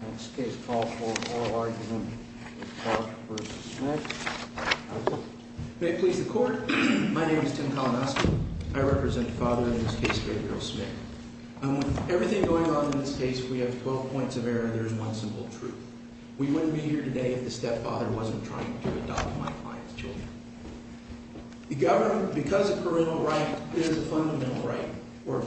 May it please the Court, my name is Tim Kalanoski. I represent the father in this case, Gabriel Smick. With everything going on in this case, we have 12 points of error and there is one simple truth. We wouldn't be here today if the stepfather wasn't trying to adopt my client's children. The government, because of parental right, there is a fundamental right, or a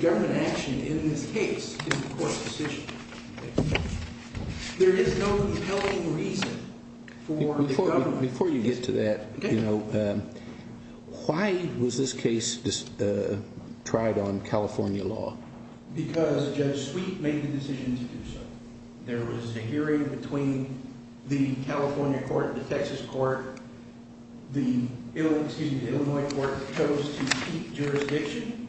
government action in this case is the Court's decision. There is no compelling reason for the government... Before you get to that, why was this case tried on California law? Because Judge Sweet made the decision to do so. There was a hearing between the California Court and the Texas Court. The Illinois Court chose to keep jurisdiction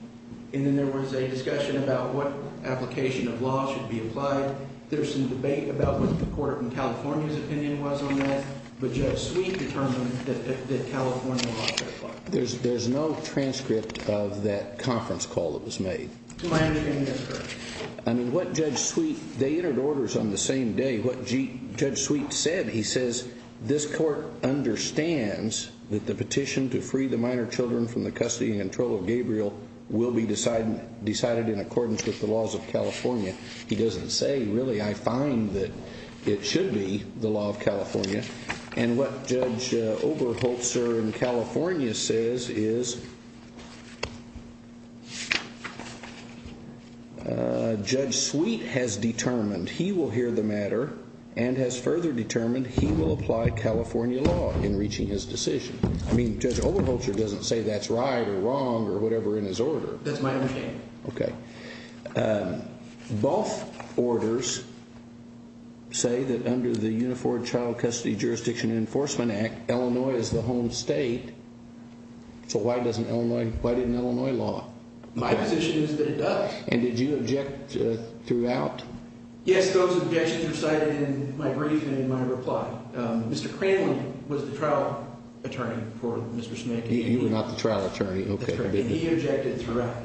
and then there was a discussion about what application of law should be applied. There was some debate about what the Court of California's opinion was on that, but Judge Sweet determined that California law could apply. There is no transcript of that conference call that was made. I mean what Judge Sweet... They entered orders on the same day. What Judge Sweet said, he says, this Court understands that the petition to free the minor children from the custody and control of Gabriel will be decided in accordance with the laws of California. He doesn't say really, I find that it should be the law of California. And what Judge Oberholzer in California says is, Judge Sweet has determined he will hear the matter and has further determined he will apply California law in reaching his decision. I mean Judge Oberholzer doesn't say that's right or wrong or whatever in his order. That's my understanding. Okay. Both orders say that under the Unifor Child Custody Jurisdiction Enforcement Act, Illinois is the home state, so why didn't Illinois law? My position is that it does. And did you object throughout? Yes, those objections were cited in my brief and in my reply. Mr. Cranley was the trial attorney for Mr. Smiggy. You were not the trial attorney, okay. And he objected throughout.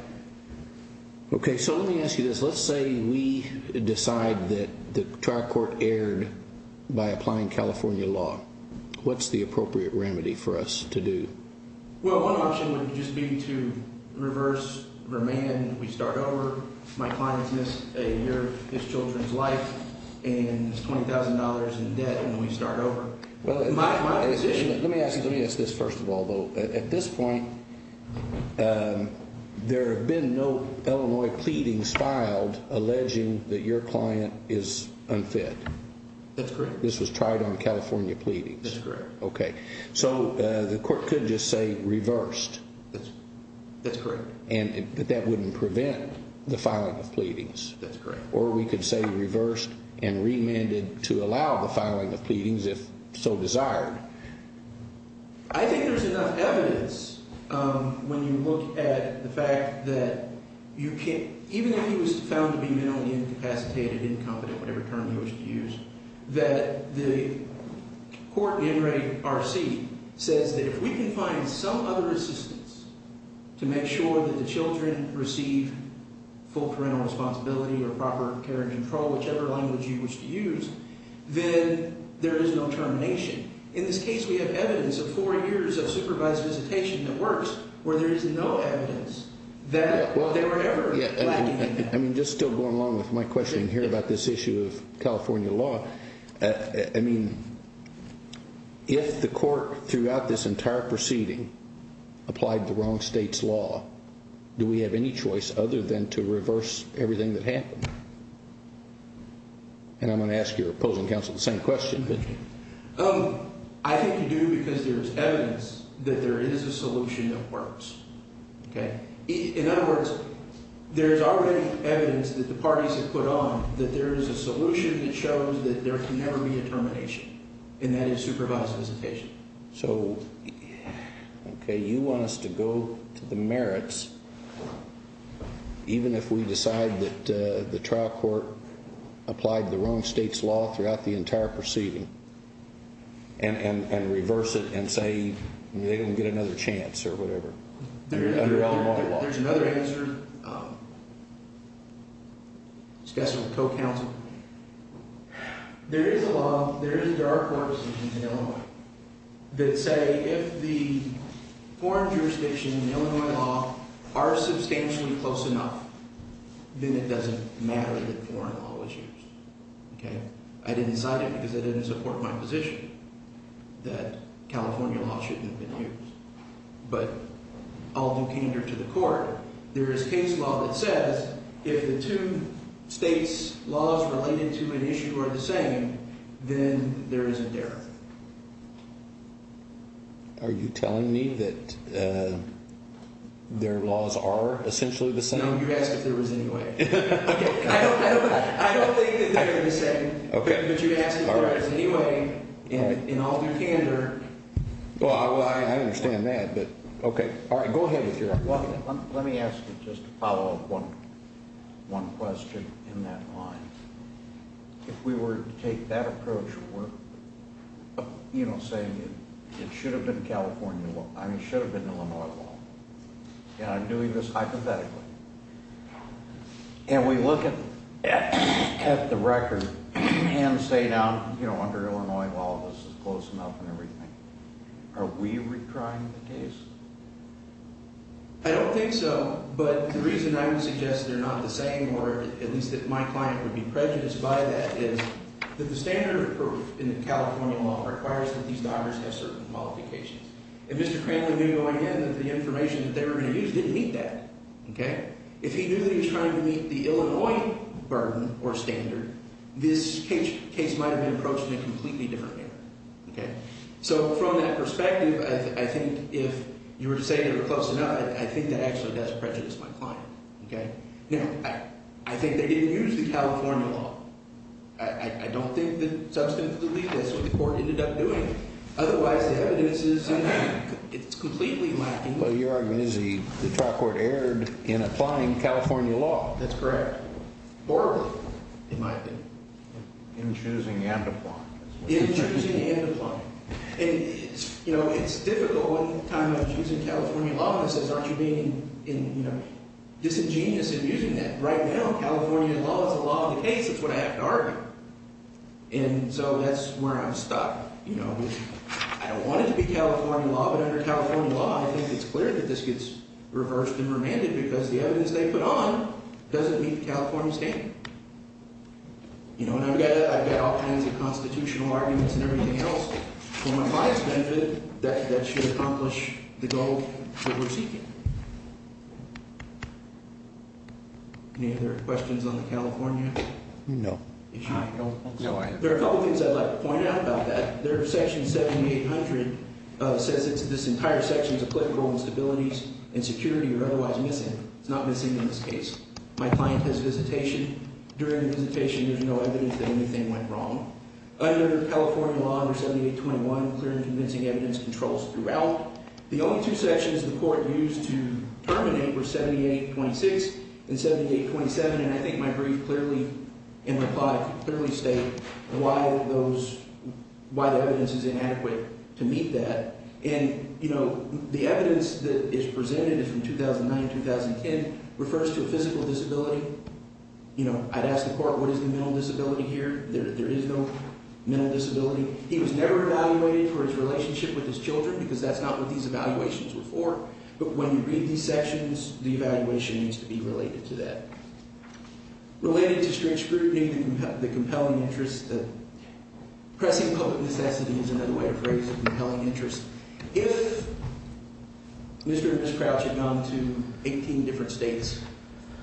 Okay, so let me ask you this. Let's say we decide that the trial court erred by applying California law. What's the appropriate remedy for us to do? Well, one option would just be to reverse remand. We start over. My client has missed a year of his children's life and is $20,000 in debt and we start over. My position is... Let me ask you this first of all. At this point, there have been no Illinois pleadings filed alleging that your That's correct. This was tried on California pleadings. That's correct. Okay. So the court could just say reversed. That's correct. But that wouldn't prevent the filing of pleadings. That's correct. Or we could say reversed and remanded to allow the filing of pleadings if so desired. I think there's enough evidence when you look at the fact that even if he was found to be mentally incapacitated, incompetent, whatever term you wish to use, that the court in Ray RC says that if we can find some other assistance to make sure that the children receive full parental responsibility or proper care and control, whichever language you wish to use, then there is no termination. In this case, we have evidence of four years of supervised visitation that works where there is no evidence that they were ever lacking in that. Just still going along with my question here about this issue of California law, if the court throughout this entire proceeding applied the wrong state's law, do we have any choice other than to reverse everything that happened? And I'm going to ask your opposing counsel the same question. I think you do because there is evidence that there is a solution that works. In other words, there is already evidence that the parties have put on that there is a solution that shows that there can never be a termination, and that is supervised visitation. So you want us to go to the merits, even if we decide that the trial court applied the wrong state's law throughout the entire proceeding, and reverse it and say they don't get another chance or whatever under Illinois law? There is another answer, discussed with the co-counsel. There is a law, there are courts in Illinois that say if the foreign jurisdictions in Illinois law are substantially close enough, then it doesn't matter that I didn't decide it because I didn't support my position that California law shouldn't have been used. But I'll do candor to the court. There is case law that says if the two states' laws related to an issue are the same, then there is a derrick. Are you telling me that their laws are essentially the same? No, you asked if there was any way. I don't think that they're the same, but you asked if there was any way in all due candor. Well, I understand that. Go ahead with your question. Let me ask you just to follow up one question in that line. If we were to take that approach of saying it should have been Illinois law, and I'm doing this hypothetically, and we look at the record and say now under Illinois law this is close enough and everything, are we retrying the case? I don't think so, but the reason I would suggest they're not the same, or at least that my client would be prejudiced by that, is that the standard of proof in the California law requires that these daughters have certain qualifications. If Mr. Cranley knew going in that the information that they were going to use didn't meet that, if he knew that he was trying to meet the Illinois burden or standard, this case might have been approached in a completely different manner. So from that perspective, I think if you were to say they were close enough, I think that actually does prejudice my client. Now, I think they otherwise the evidence is completely lacking. Well, your argument is the trial court erred in applying California law. That's correct. Orally, it might have been. In choosing and applying. In choosing and applying. And it's difficult when I'm using California law and it says aren't you being disingenuous in using that. Right now California law is the law of the I don't want it to be California law, but under California law, I think it's clear that this gets reversed and remanded because the evidence they put on doesn't meet California standard. And I've got all kinds of constitutional arguments and everything else for my client's benefit that should accomplish the goal that we're seeking. Any other questions on the California issue? No. There are a couple of things I'd like to point out about that. Section 7800 says this entire section is a political instabilities and security or otherwise missing. It's not missing in this case. My client has visitation. During the visitation, there's no evidence that anything went wrong. Under California law, under 7821, clear and convincing evidence controls throughout. The only two sections the court used to terminate were 7826 and 7828. Why those, why the evidence is inadequate to meet that and, you know, the evidence that is presented is from 2009-2010, refers to a physical disability. You know, I'd ask the court what is the mental disability here? There is no mental disability. He was never evaluated for his relationship with his children because that's not what these evaluations were for, but when you read these sections, the evaluation needs to be related to that. Related to strict scrutiny, the compelling interest, the pressing public necessity is another way to phrase compelling interest. If Mr. and Ms. Crouch had gone to 18 different states,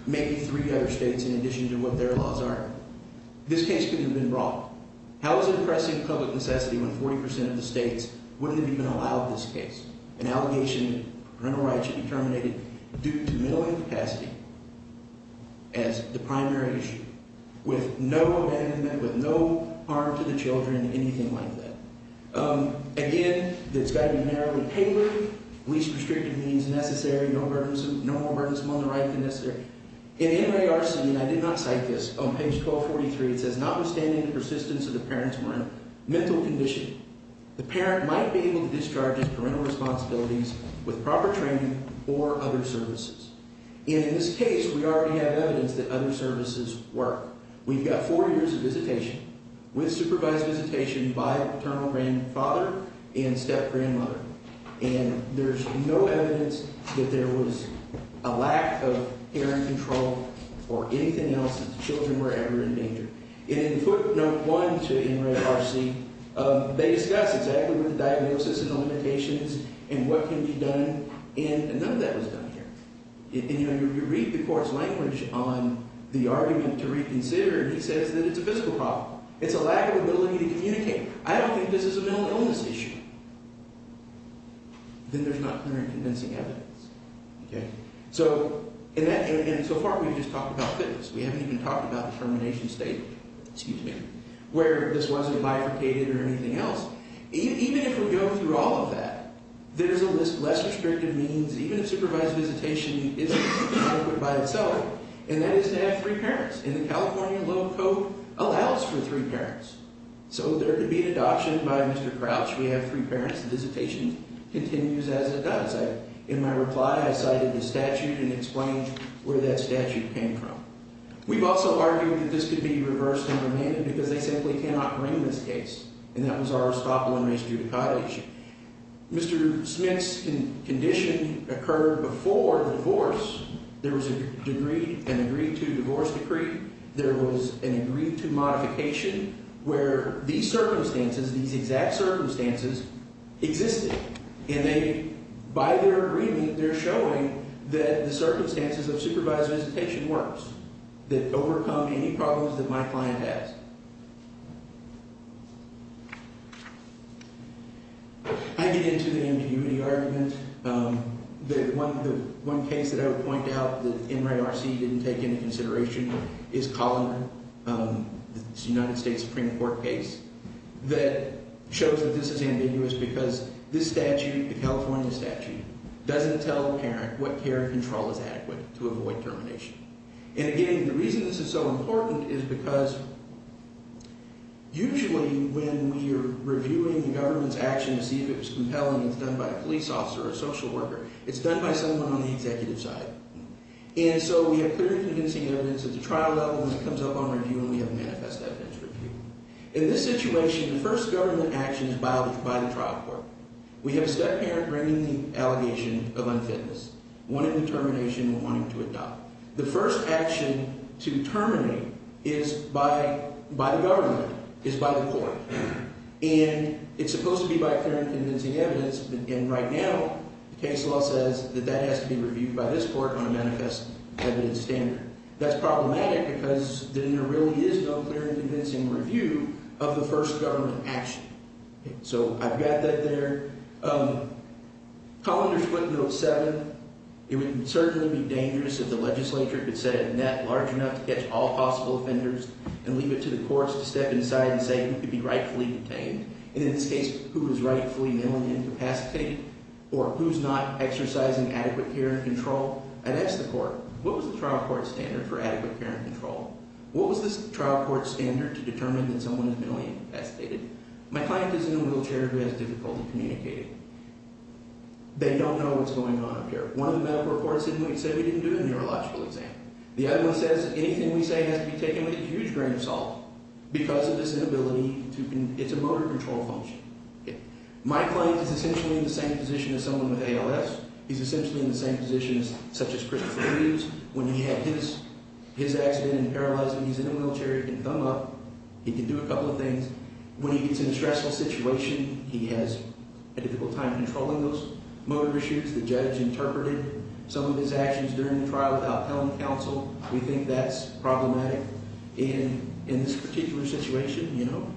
maybe three other states in addition to what their laws are, this case could have been brought. How is it pressing public necessity when 40% of the states wouldn't have even as the primary issue with no abandonment, with no harm to the children, anything like that? Again, it's got to be narrowly tailored, least restrictive means necessary, no more burdensome on the right than necessary. In NARC, and I did not cite this, on page 1243, it says notwithstanding the persistence of the parent's mental condition, the parent might be able to discharge his parental responsibilities with proper training or other services. In this case, we already have evidence that other services work. We've got four years of visitation with supervised visitation by paternal grandfather and step-grandmother, and there's no evidence that there was a lack of parent control or anything else that the children were ever in danger. And in footnote 1 to NARC, they discuss exactly what the diagnosis and the limitations and what can be done, and none of that was done here. And you know, you read the court's language on the argument to reconsider, and he says that it's a physical problem. It's a lack of ability to communicate. I don't think this is a mental illness issue. Then there's not clear and convincing evidence, okay? So in that, and so far we've just talked about fitness. We haven't even talked about the termination state, excuse me, where this wasn't bifurcated or anything else. Even if we go through all of that, there's a less restrictive means, even if supervised visitation isn't adequate by itself, and that is to have three parents, and the California law allows for three parents. So there could be an adoption by Mr. Crouch. We have three parents. Visitation continues as it does. In my reply, I cited the statute and explained where that statute came from. We've also argued that this could be reversed and remanded because they simply cannot bring this case, and that was our Arstotle and Reiss judicata issue. Mr. Smith's condition occurred before the divorce. There was a degree, an agreed-to divorce decree. There was an agreed-to modification where these circumstances, these exact circumstances existed, and they, by their agreement, they're showing that the circumstances of supervised visitation works, that overcome any problems that my client has. I get into the ambiguity argument. The one case that I would point out that NRARC didn't take into consideration is Collin, the United States Supreme Court case, that shows that this is ambiguous because this statute, the California statute, doesn't tell a parent what care and control is adequate to avoid termination. And again, the reason this is so important is because usually when we are reviewing the government's action to see if it's compelling, it's done by a police officer or a social worker. It's done by someone on the executive side. And so we have clear and convincing evidence at the trial level and it comes up on review and we have manifest evidence for review. In this situation, the first government action is biled by the trial court. We have a step-parent bringing the first government action, one in fitness, one in determination, one in wanting to adopt. The first action to terminate is by the government, is by the court. And it's supposed to be by clear and convincing evidence, and right now the case law says that that has to be reviewed by this court on a manifest evidence standard. That's problematic because then there really is no clear and convincing review of the first government action. So I've got that there. Colander's footnote 7, it would certainly be dangerous if the legislature could set a net large enough to catch all possible offenders and leave it to the courts to step inside and say who could be rightfully detained. And in this case, who is rightfully mentally incapacitated or who's not exercising adequate care and control. I'd ask the court, what was the trial court standard for adequate care and control? What was the trial court standard to determine that someone is mentally incapacitated? My client is in a wheelchair who has difficulty communicating. They don't know what's going on up here. One of the medical reports said we didn't do a neurological exam. The other one says anything we say has to be taken with a huge grain of salt because of this inability to, it's a motor control function. My client is essentially in the same position as someone with ALS. He's essentially in the same position as, such as Christopher Reeves, when he had his accident and paralyzed and he's in a wheelchair, he can thumb up, he can do a couple of things. When he gets in a stressful situation, he has a difficult time controlling those motor issues. The judge interpreted some of his actions during the trial without telling counsel. We think that's problematic. And in this particular situation, you know,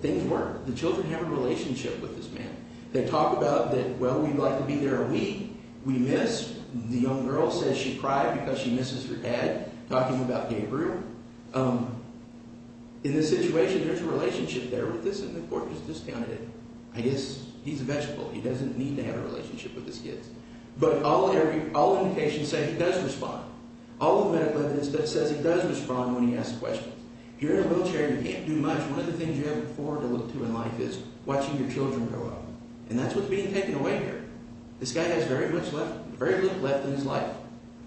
things work. The children have a relationship with this man. They talk about that, well, we'd like to be there a week. We miss. The young girl says she cried because she misses her dad, talking about Gabriel. In this situation, there's a relationship there with this and the court has discounted it. I guess he's a vegetable. He doesn't need to have a relationship with his kids. But all indications say he does respond. All the medical evidence says he does respond when he asks questions. If you're in a wheelchair and you can't do much, one of the things you have to look forward to in life is watching your children grow up. And that's what's being taken away here. This guy has very little left in his life.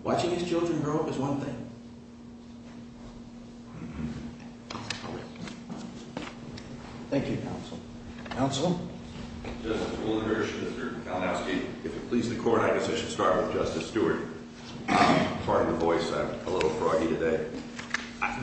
Watching his children grow up is one thing. Thank you, counsel. Counsel? Justice Woldenberg, Senator Kalanowski. If it pleases the court, I guess I should start with Justice Stewart. Pardon the voice. I'm a little froggy today.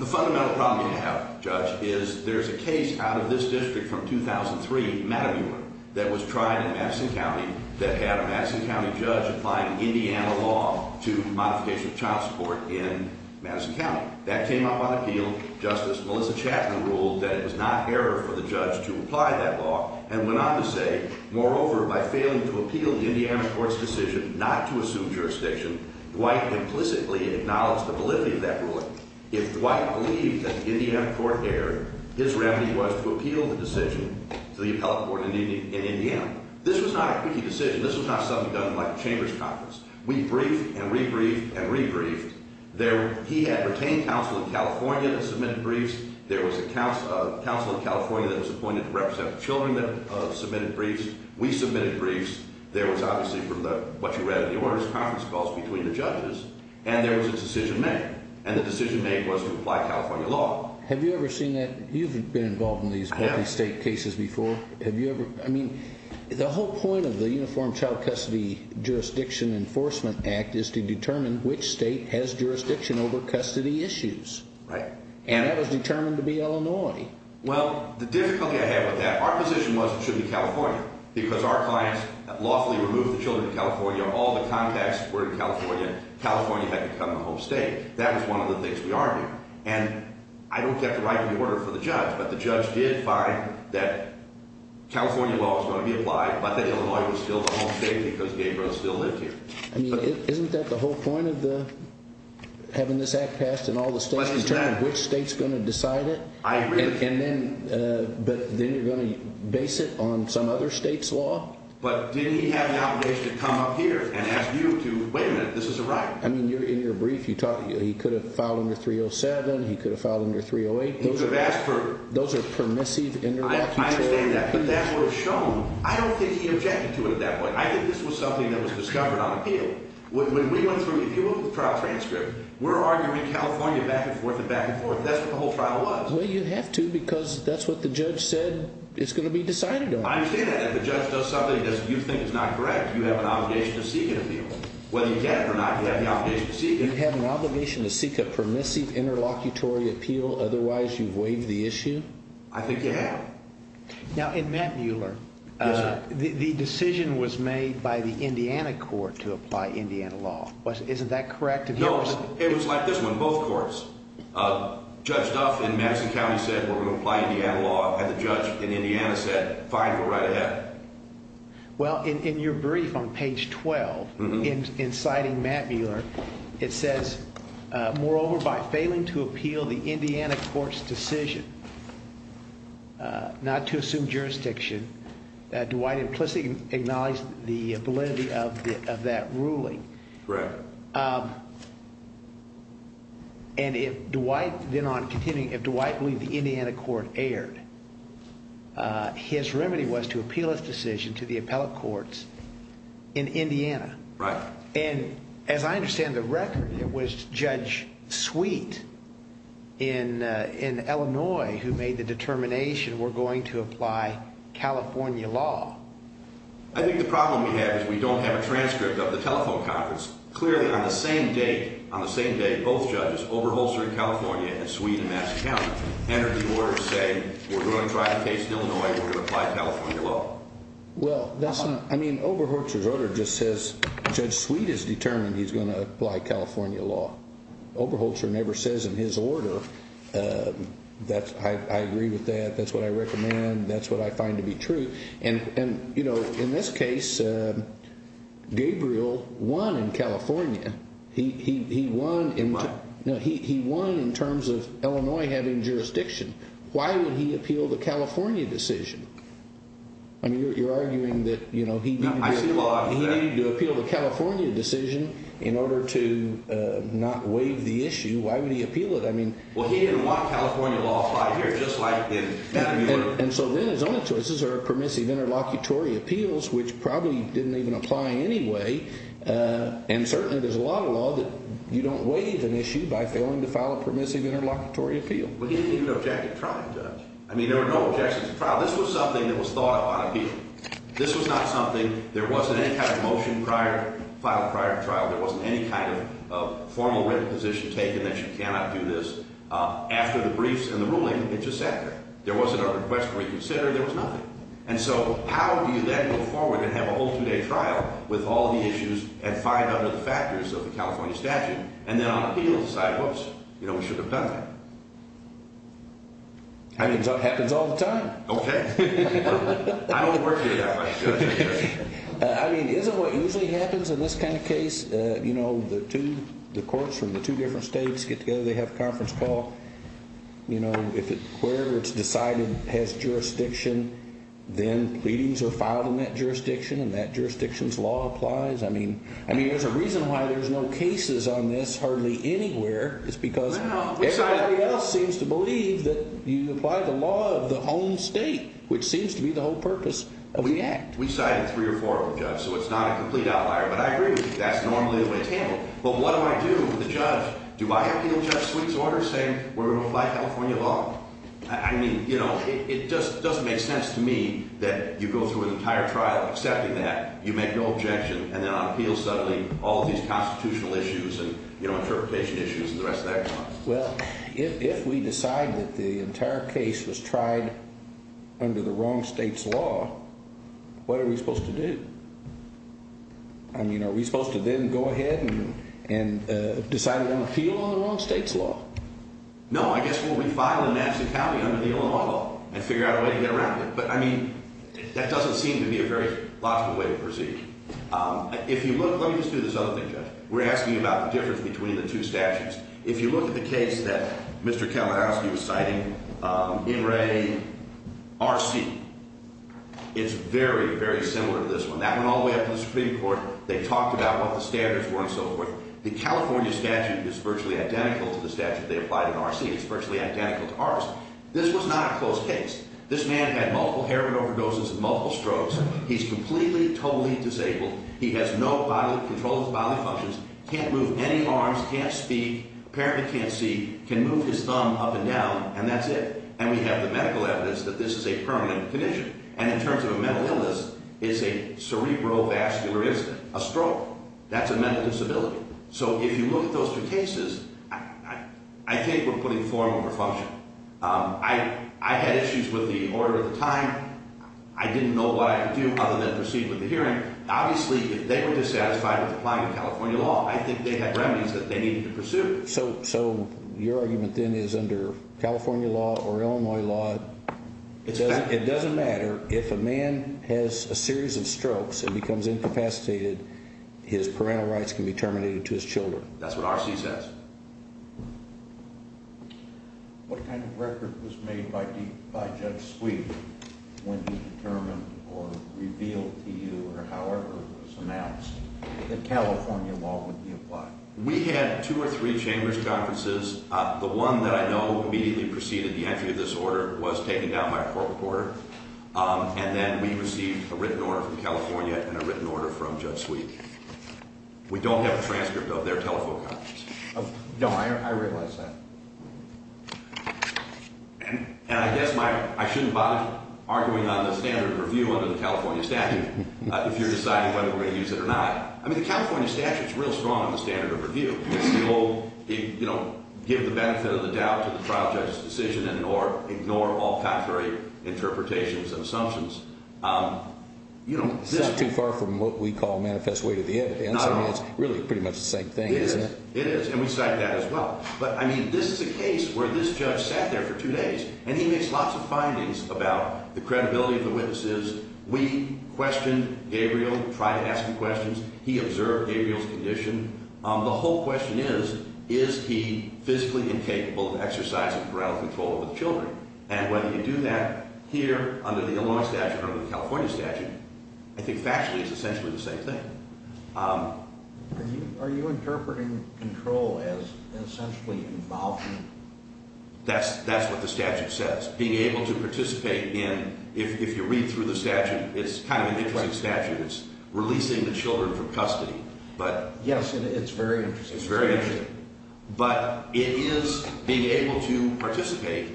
The fundamental problem you have, Judge, is there's a case out of this district from 2003, Mattamuma, that was tried in Madison County that had a Madison County judge applying Indiana law to modification of child support in Madison County. That came up on appeal. Justice Melissa Chatman ruled that it was not error for the judge to apply that law and went on to say, moreover, by failing to appeal the Indiana court's decision not to assume jurisdiction, Dwight implicitly acknowledged the validity of that ruling. If Dwight believed that the Indiana court erred, his remedy was to appeal the decision to the appellate court in Indiana. This was not a chambers conference. We briefed and re-briefed and re-briefed. He had retained counsel in California that submitted briefs. There was a counsel in California that was appointed to represent the children that submitted briefs. We submitted briefs. There was obviously, from what you read in the orders, conference calls between the judges. And there was a decision made. And the decision made was to apply California law. Have you ever seen that? You've been involved in these multi-state cases before. Have you seen that? Yes. Well, the difficulty I have with that, our position was, it should be California, because our clients lawfully removed the children from California, all the contacts were in California. California had become the home state. That was one of the things we argued. And I don't get the right of the order for the judge. But the judge did find that California law was going to be applied, but that Illinois was still the home state because Gabriel still lived here. I mean, isn't that the whole point of the, having this act passed and all the states concerned, which state's going to decide it? I agree. And then, uh, but then you're going to base it on some other state's law. But didn't he have an obligation to come up here and ask you to, wait a minute, this is a right. I mean, you're in your brief, you talk, he could have filed under 307. He could have filed under 308. Those are permissive interruptions. I understand that, but that would have shown, I don't think he objected to it at that point. I think this was something that was discovered on appeal. When we went through, if you look at the trial transcript, we're arguing California back and forth and back and forth. That's what the whole trial was. Well, you have to because that's what the judge said is going to be decided on. I understand that. If the judge does something that you think is not correct, you have an obligation to seek an appeal. Whether you get it or not, you have the obligation to seek it. You have an obligation to seek a permissive interlocutory appeal, otherwise you've waived the issue? I think you have. Now, in Matt Mueller, the decision was made by the Indiana court to apply Indiana law. Isn't that correct? No, it was like this one, both courts. Judge Duff in Madison County said, we're going to apply Indiana law, and the judge in Indiana said, fine, go right ahead. Well, in your brief on page 12, inciting Matt Mueller, it says, moreover, by failing to appeal the Indiana court's decision not to assume jurisdiction, that Dwight implicitly acknowledged the validity of that ruling. Correct. And if Dwight, then on continuing, if Dwight believed the Indiana court erred, his remedy was to appeal his decision to the in Illinois who made the determination, we're going to apply California law. I think the problem we have is we don't have a transcript of the telephone conference. Clearly, on the same day, on the same day, both judges, Oberholzer in California and Sweet in Madison County entered the order to say, we're going to try the case in Illinois, we're going to apply California law. Well, that's not, I mean, Oberholzer's order just says, Judge Sweet has determined he's going to apply California law. Oberholzer never says in his order, I agree with that, that's what I recommend, that's what I find to be true. And in this case, Gabriel won in California. He won in terms of Illinois having jurisdiction. Why would he appeal the California decision? I mean, you're arguing that he needed to appeal the California decision in order to not waive the issue. Why would he appeal it? I mean, well, he didn't want California law applied here, just like in that area. And so then his only choices are permissive interlocutory appeals, which probably didn't even apply anyway. And certainly there's a lot of law that you don't waive an issue by failing to file a permissive interlocutory appeal. But he didn't even object to the trial, Judge. I mean, there were no objections to the trial. This was something that was thought about This was not something, there wasn't any kind of motion filed prior to trial, there wasn't any kind of formal written position taken that you cannot do this. After the briefs and the ruling, it just sat there. There wasn't a request to reconsider, there was nothing. And so how do you then move forward and have a whole two-day trial with all the issues and five other factors of the California statute, and then on appeal decide, whoops, you know, I mean, isn't what usually happens in this kind of case, you know, the two, the courts from the two different states get together, they have a conference call. You know, if it, wherever it's decided has jurisdiction, then pleadings are filed in that jurisdiction and that jurisdiction's law applies. I mean, I mean, there's a reason why there's no cases on this hardly anywhere. It's because everybody else seems to believe that you apply the law of the home state, which seems to be the whole purpose of the act. We've cited three or four of them, Judge, so it's not a complete outlier, but I agree with you, that's normally the way it's handled. But what do I do with the judge? Do I appeal Judge Sweet's order saying we're going to apply California law? I mean, you know, it just doesn't make sense to me that you go through an entire trial accepting that, you make no objection, and then on appeal suddenly all of these constitutional issues and, you know, interpretation issues and the rest of that come up. Well, if we decide that the entire case was tried under the wrong state's law, what are we supposed to do? I mean, are we supposed to then go ahead and decide on appeal on the wrong state's law? No, I guess what we file in Madison County under the Illinois law and figure out a way to get around it. But I mean, that doesn't seem to be a very logical way to proceed. If you look, let me just do this other thing, Judge. We're asking about the difference between the two statutes. If you look at the case that Mr. Kalinowski was citing in Ray RC, it's very, very similar to this one. That went all the way up to the Supreme Court. They talked about what the standards were and so forth. The California statute is virtually identical to the statute they applied in RC. It's virtually identical to ours. This was not a close case. This man had multiple heroin overdoses and multiple strokes. He's completely, totally disabled. He has no control of his bodily functions, can't move any arms, can't speak, apparently can't see, can move his thumb up and down, and that's it. And we have the medical evidence that this is a permanent condition. And in terms of a mental illness, it's a cerebrovascular incident, a stroke. That's a mental disability. So if you look at those two cases, I think we're putting form over function. I had issues with the hearing. Obviously, if they were dissatisfied with applying the California law, I think they had remedies that they needed to pursue. So your argument then is under California law or Illinois law, it doesn't matter if a man has a series of strokes and becomes incapacitated, his parental rights can be terminated to his children. That's what RC says. What kind of record was made by Judge Sweet when he determined or revealed to you or however it was announced that California law would be applied? We had two or three chambers' conferences. The one that I know immediately preceded the entry of this order was taken down by a court recorder. And then we received a written order from California and a written order from Judge Sweet. We don't have a transcript of their telephone conference. Oh, no, I realize that. And I guess I shouldn't bother arguing on the standard review under the California statute if you're deciding whether we're going to use it or not. I mean, the California statute's real strong on the standard of review. It's the old give the benefit of the doubt to the trial judge's decision and ignore all contrary interpretations and assumptions. It's not too far from what we call manifest way to the evidence. I mean, it's really pretty much the same thing, isn't it? It is, and we cite that as well. But I mean, this is a case where this judge sat there for two days, and he makes lots of findings about the credibility of the witnesses. We questioned Gabriel, tried to ask him questions. He observed Gabriel's condition. The whole question is, is he physically incapable of exercising parole control over the children? And whether you do that here under the Illinois statute or the California statute, I think factually it's essentially the same thing. Are you interpreting control as essentially involvement? That's what the statute says. Being able to participate in, if you read through the statute, it's kind of an interesting statute. It's releasing the children from custody. Yes, and it's very interesting. It's very interesting. But it is being able to participate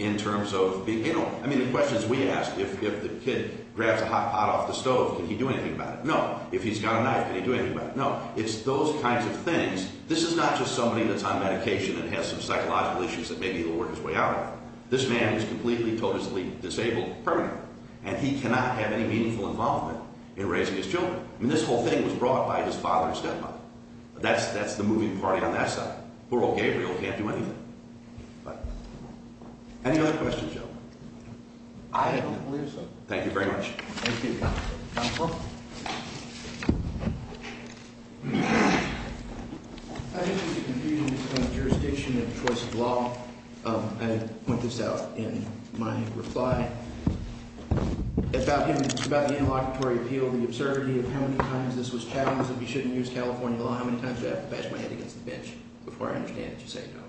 in terms of being, you know, I mean, the questions we ask, if the kid grabs a hot pot off the stove, can he do anything about it? No. If he's got a knife, can he do anything about it? No. It's those kinds of things. This is not just somebody that's on medication and has some psychological issues that maybe he'll work his way out of. This man is completely, totally disabled permanently, and he cannot have any meaningful involvement in raising his children. I mean, this whole thing was brought by his father and stepmother. That's the moving party on that side. Poor old Gabriel can't do anything. Any other questions, gentlemen? I don't believe so. Thank you very much. I think there's a confusion in terms of jurisdiction and choice of law. I point this out in my reply. It's about the interlocutory appeal, the absurdity of how many times this was challenged that we shouldn't use California law. How many times do I have to bash my head against the bench before I understand that you say no?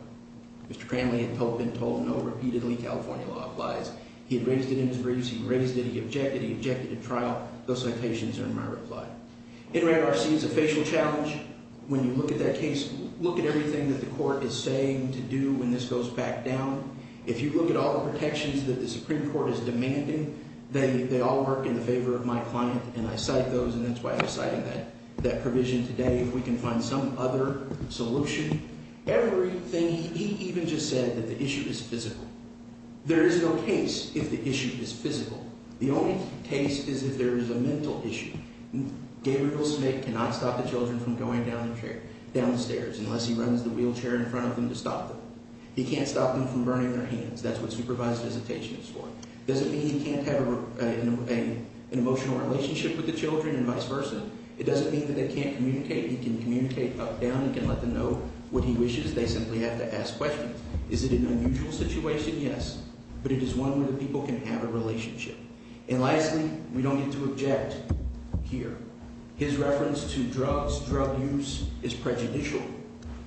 Mr. Cranley had been told repeatedly California law applies. He had raised it in his briefs. He raised it. He objected. He objected to trial. Those citations are in my reply. In red, RC is a facial challenge. When you look at that case, look at everything that the court is saying to do when this goes back down. If you look at all the protections that the Supreme Court is demanding, they all work in the favor of my client, and I cite those, and that's why I'm citing that provision today. If we can find some other solution. Everything, he even just said that the issue is physical. There is no case if the issue is physical. The only case is if there is a mental issue. Gabriel Smith cannot stop the children from going down the stairs unless he runs the wheelchair in front of them to stop them. He can't stop them from burning their hands. That's what supervised visitation is for. Doesn't mean he can't have an emotional relationship with the children and vice versa. It doesn't mean that they can't communicate. He can communicate up, down. He can let them know what he wishes. They simply have to ask questions. Is it an unusual situation? Yes, but it is one where the people can have a relationship. And lastly, we don't need to object here. His reference to drugs, drug use, is prejudicial.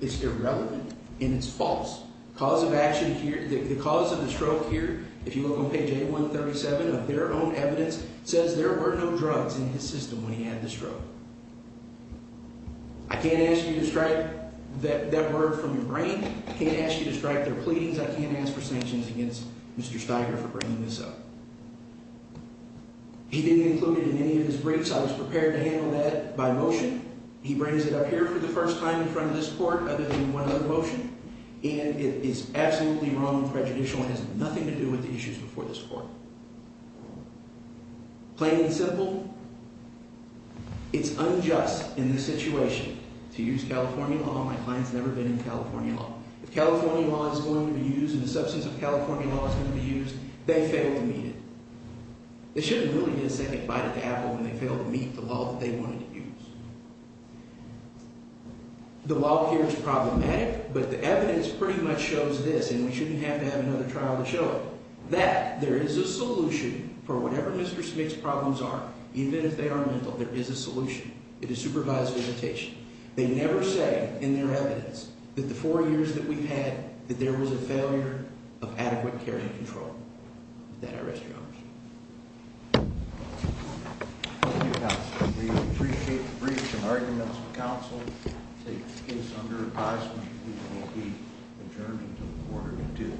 It's irrelevant, and it's false. Cause of action here, the cause of the stroke here, if you look on page A137 of their own evidence, says there were no drugs in his system when he had the stroke. I can't ask you to strike that word from your brain. I can't ask you to strike their pleadings. I can't ask for sanctions against Mr. Steiger for bringing this up. He didn't include it in any of his briefs. I was prepared to handle that by motion. He brings it up here for the first time in front of this court other than one other motion, and it is absolutely wrong and prejudicial and has nothing to do with the issues before this court. Plain and simple, it's unjust in this situation to use California law. My client's never been in California law. If California law is going to be used and the substance of California law is going to be used, they fail to meet it. They shouldn't really get a second bite at the apple when they fail to meet the law that they wanted to use. The law here is problematic, but the evidence pretty much shows this, and we shouldn't have to have another trial to show it, that there is a solution for whatever Mr. Smith's problems are, even if they are mental, there They never say in their evidence that the four years that we've had, that there was a failure of adequate care and control. With that, I rest your honor.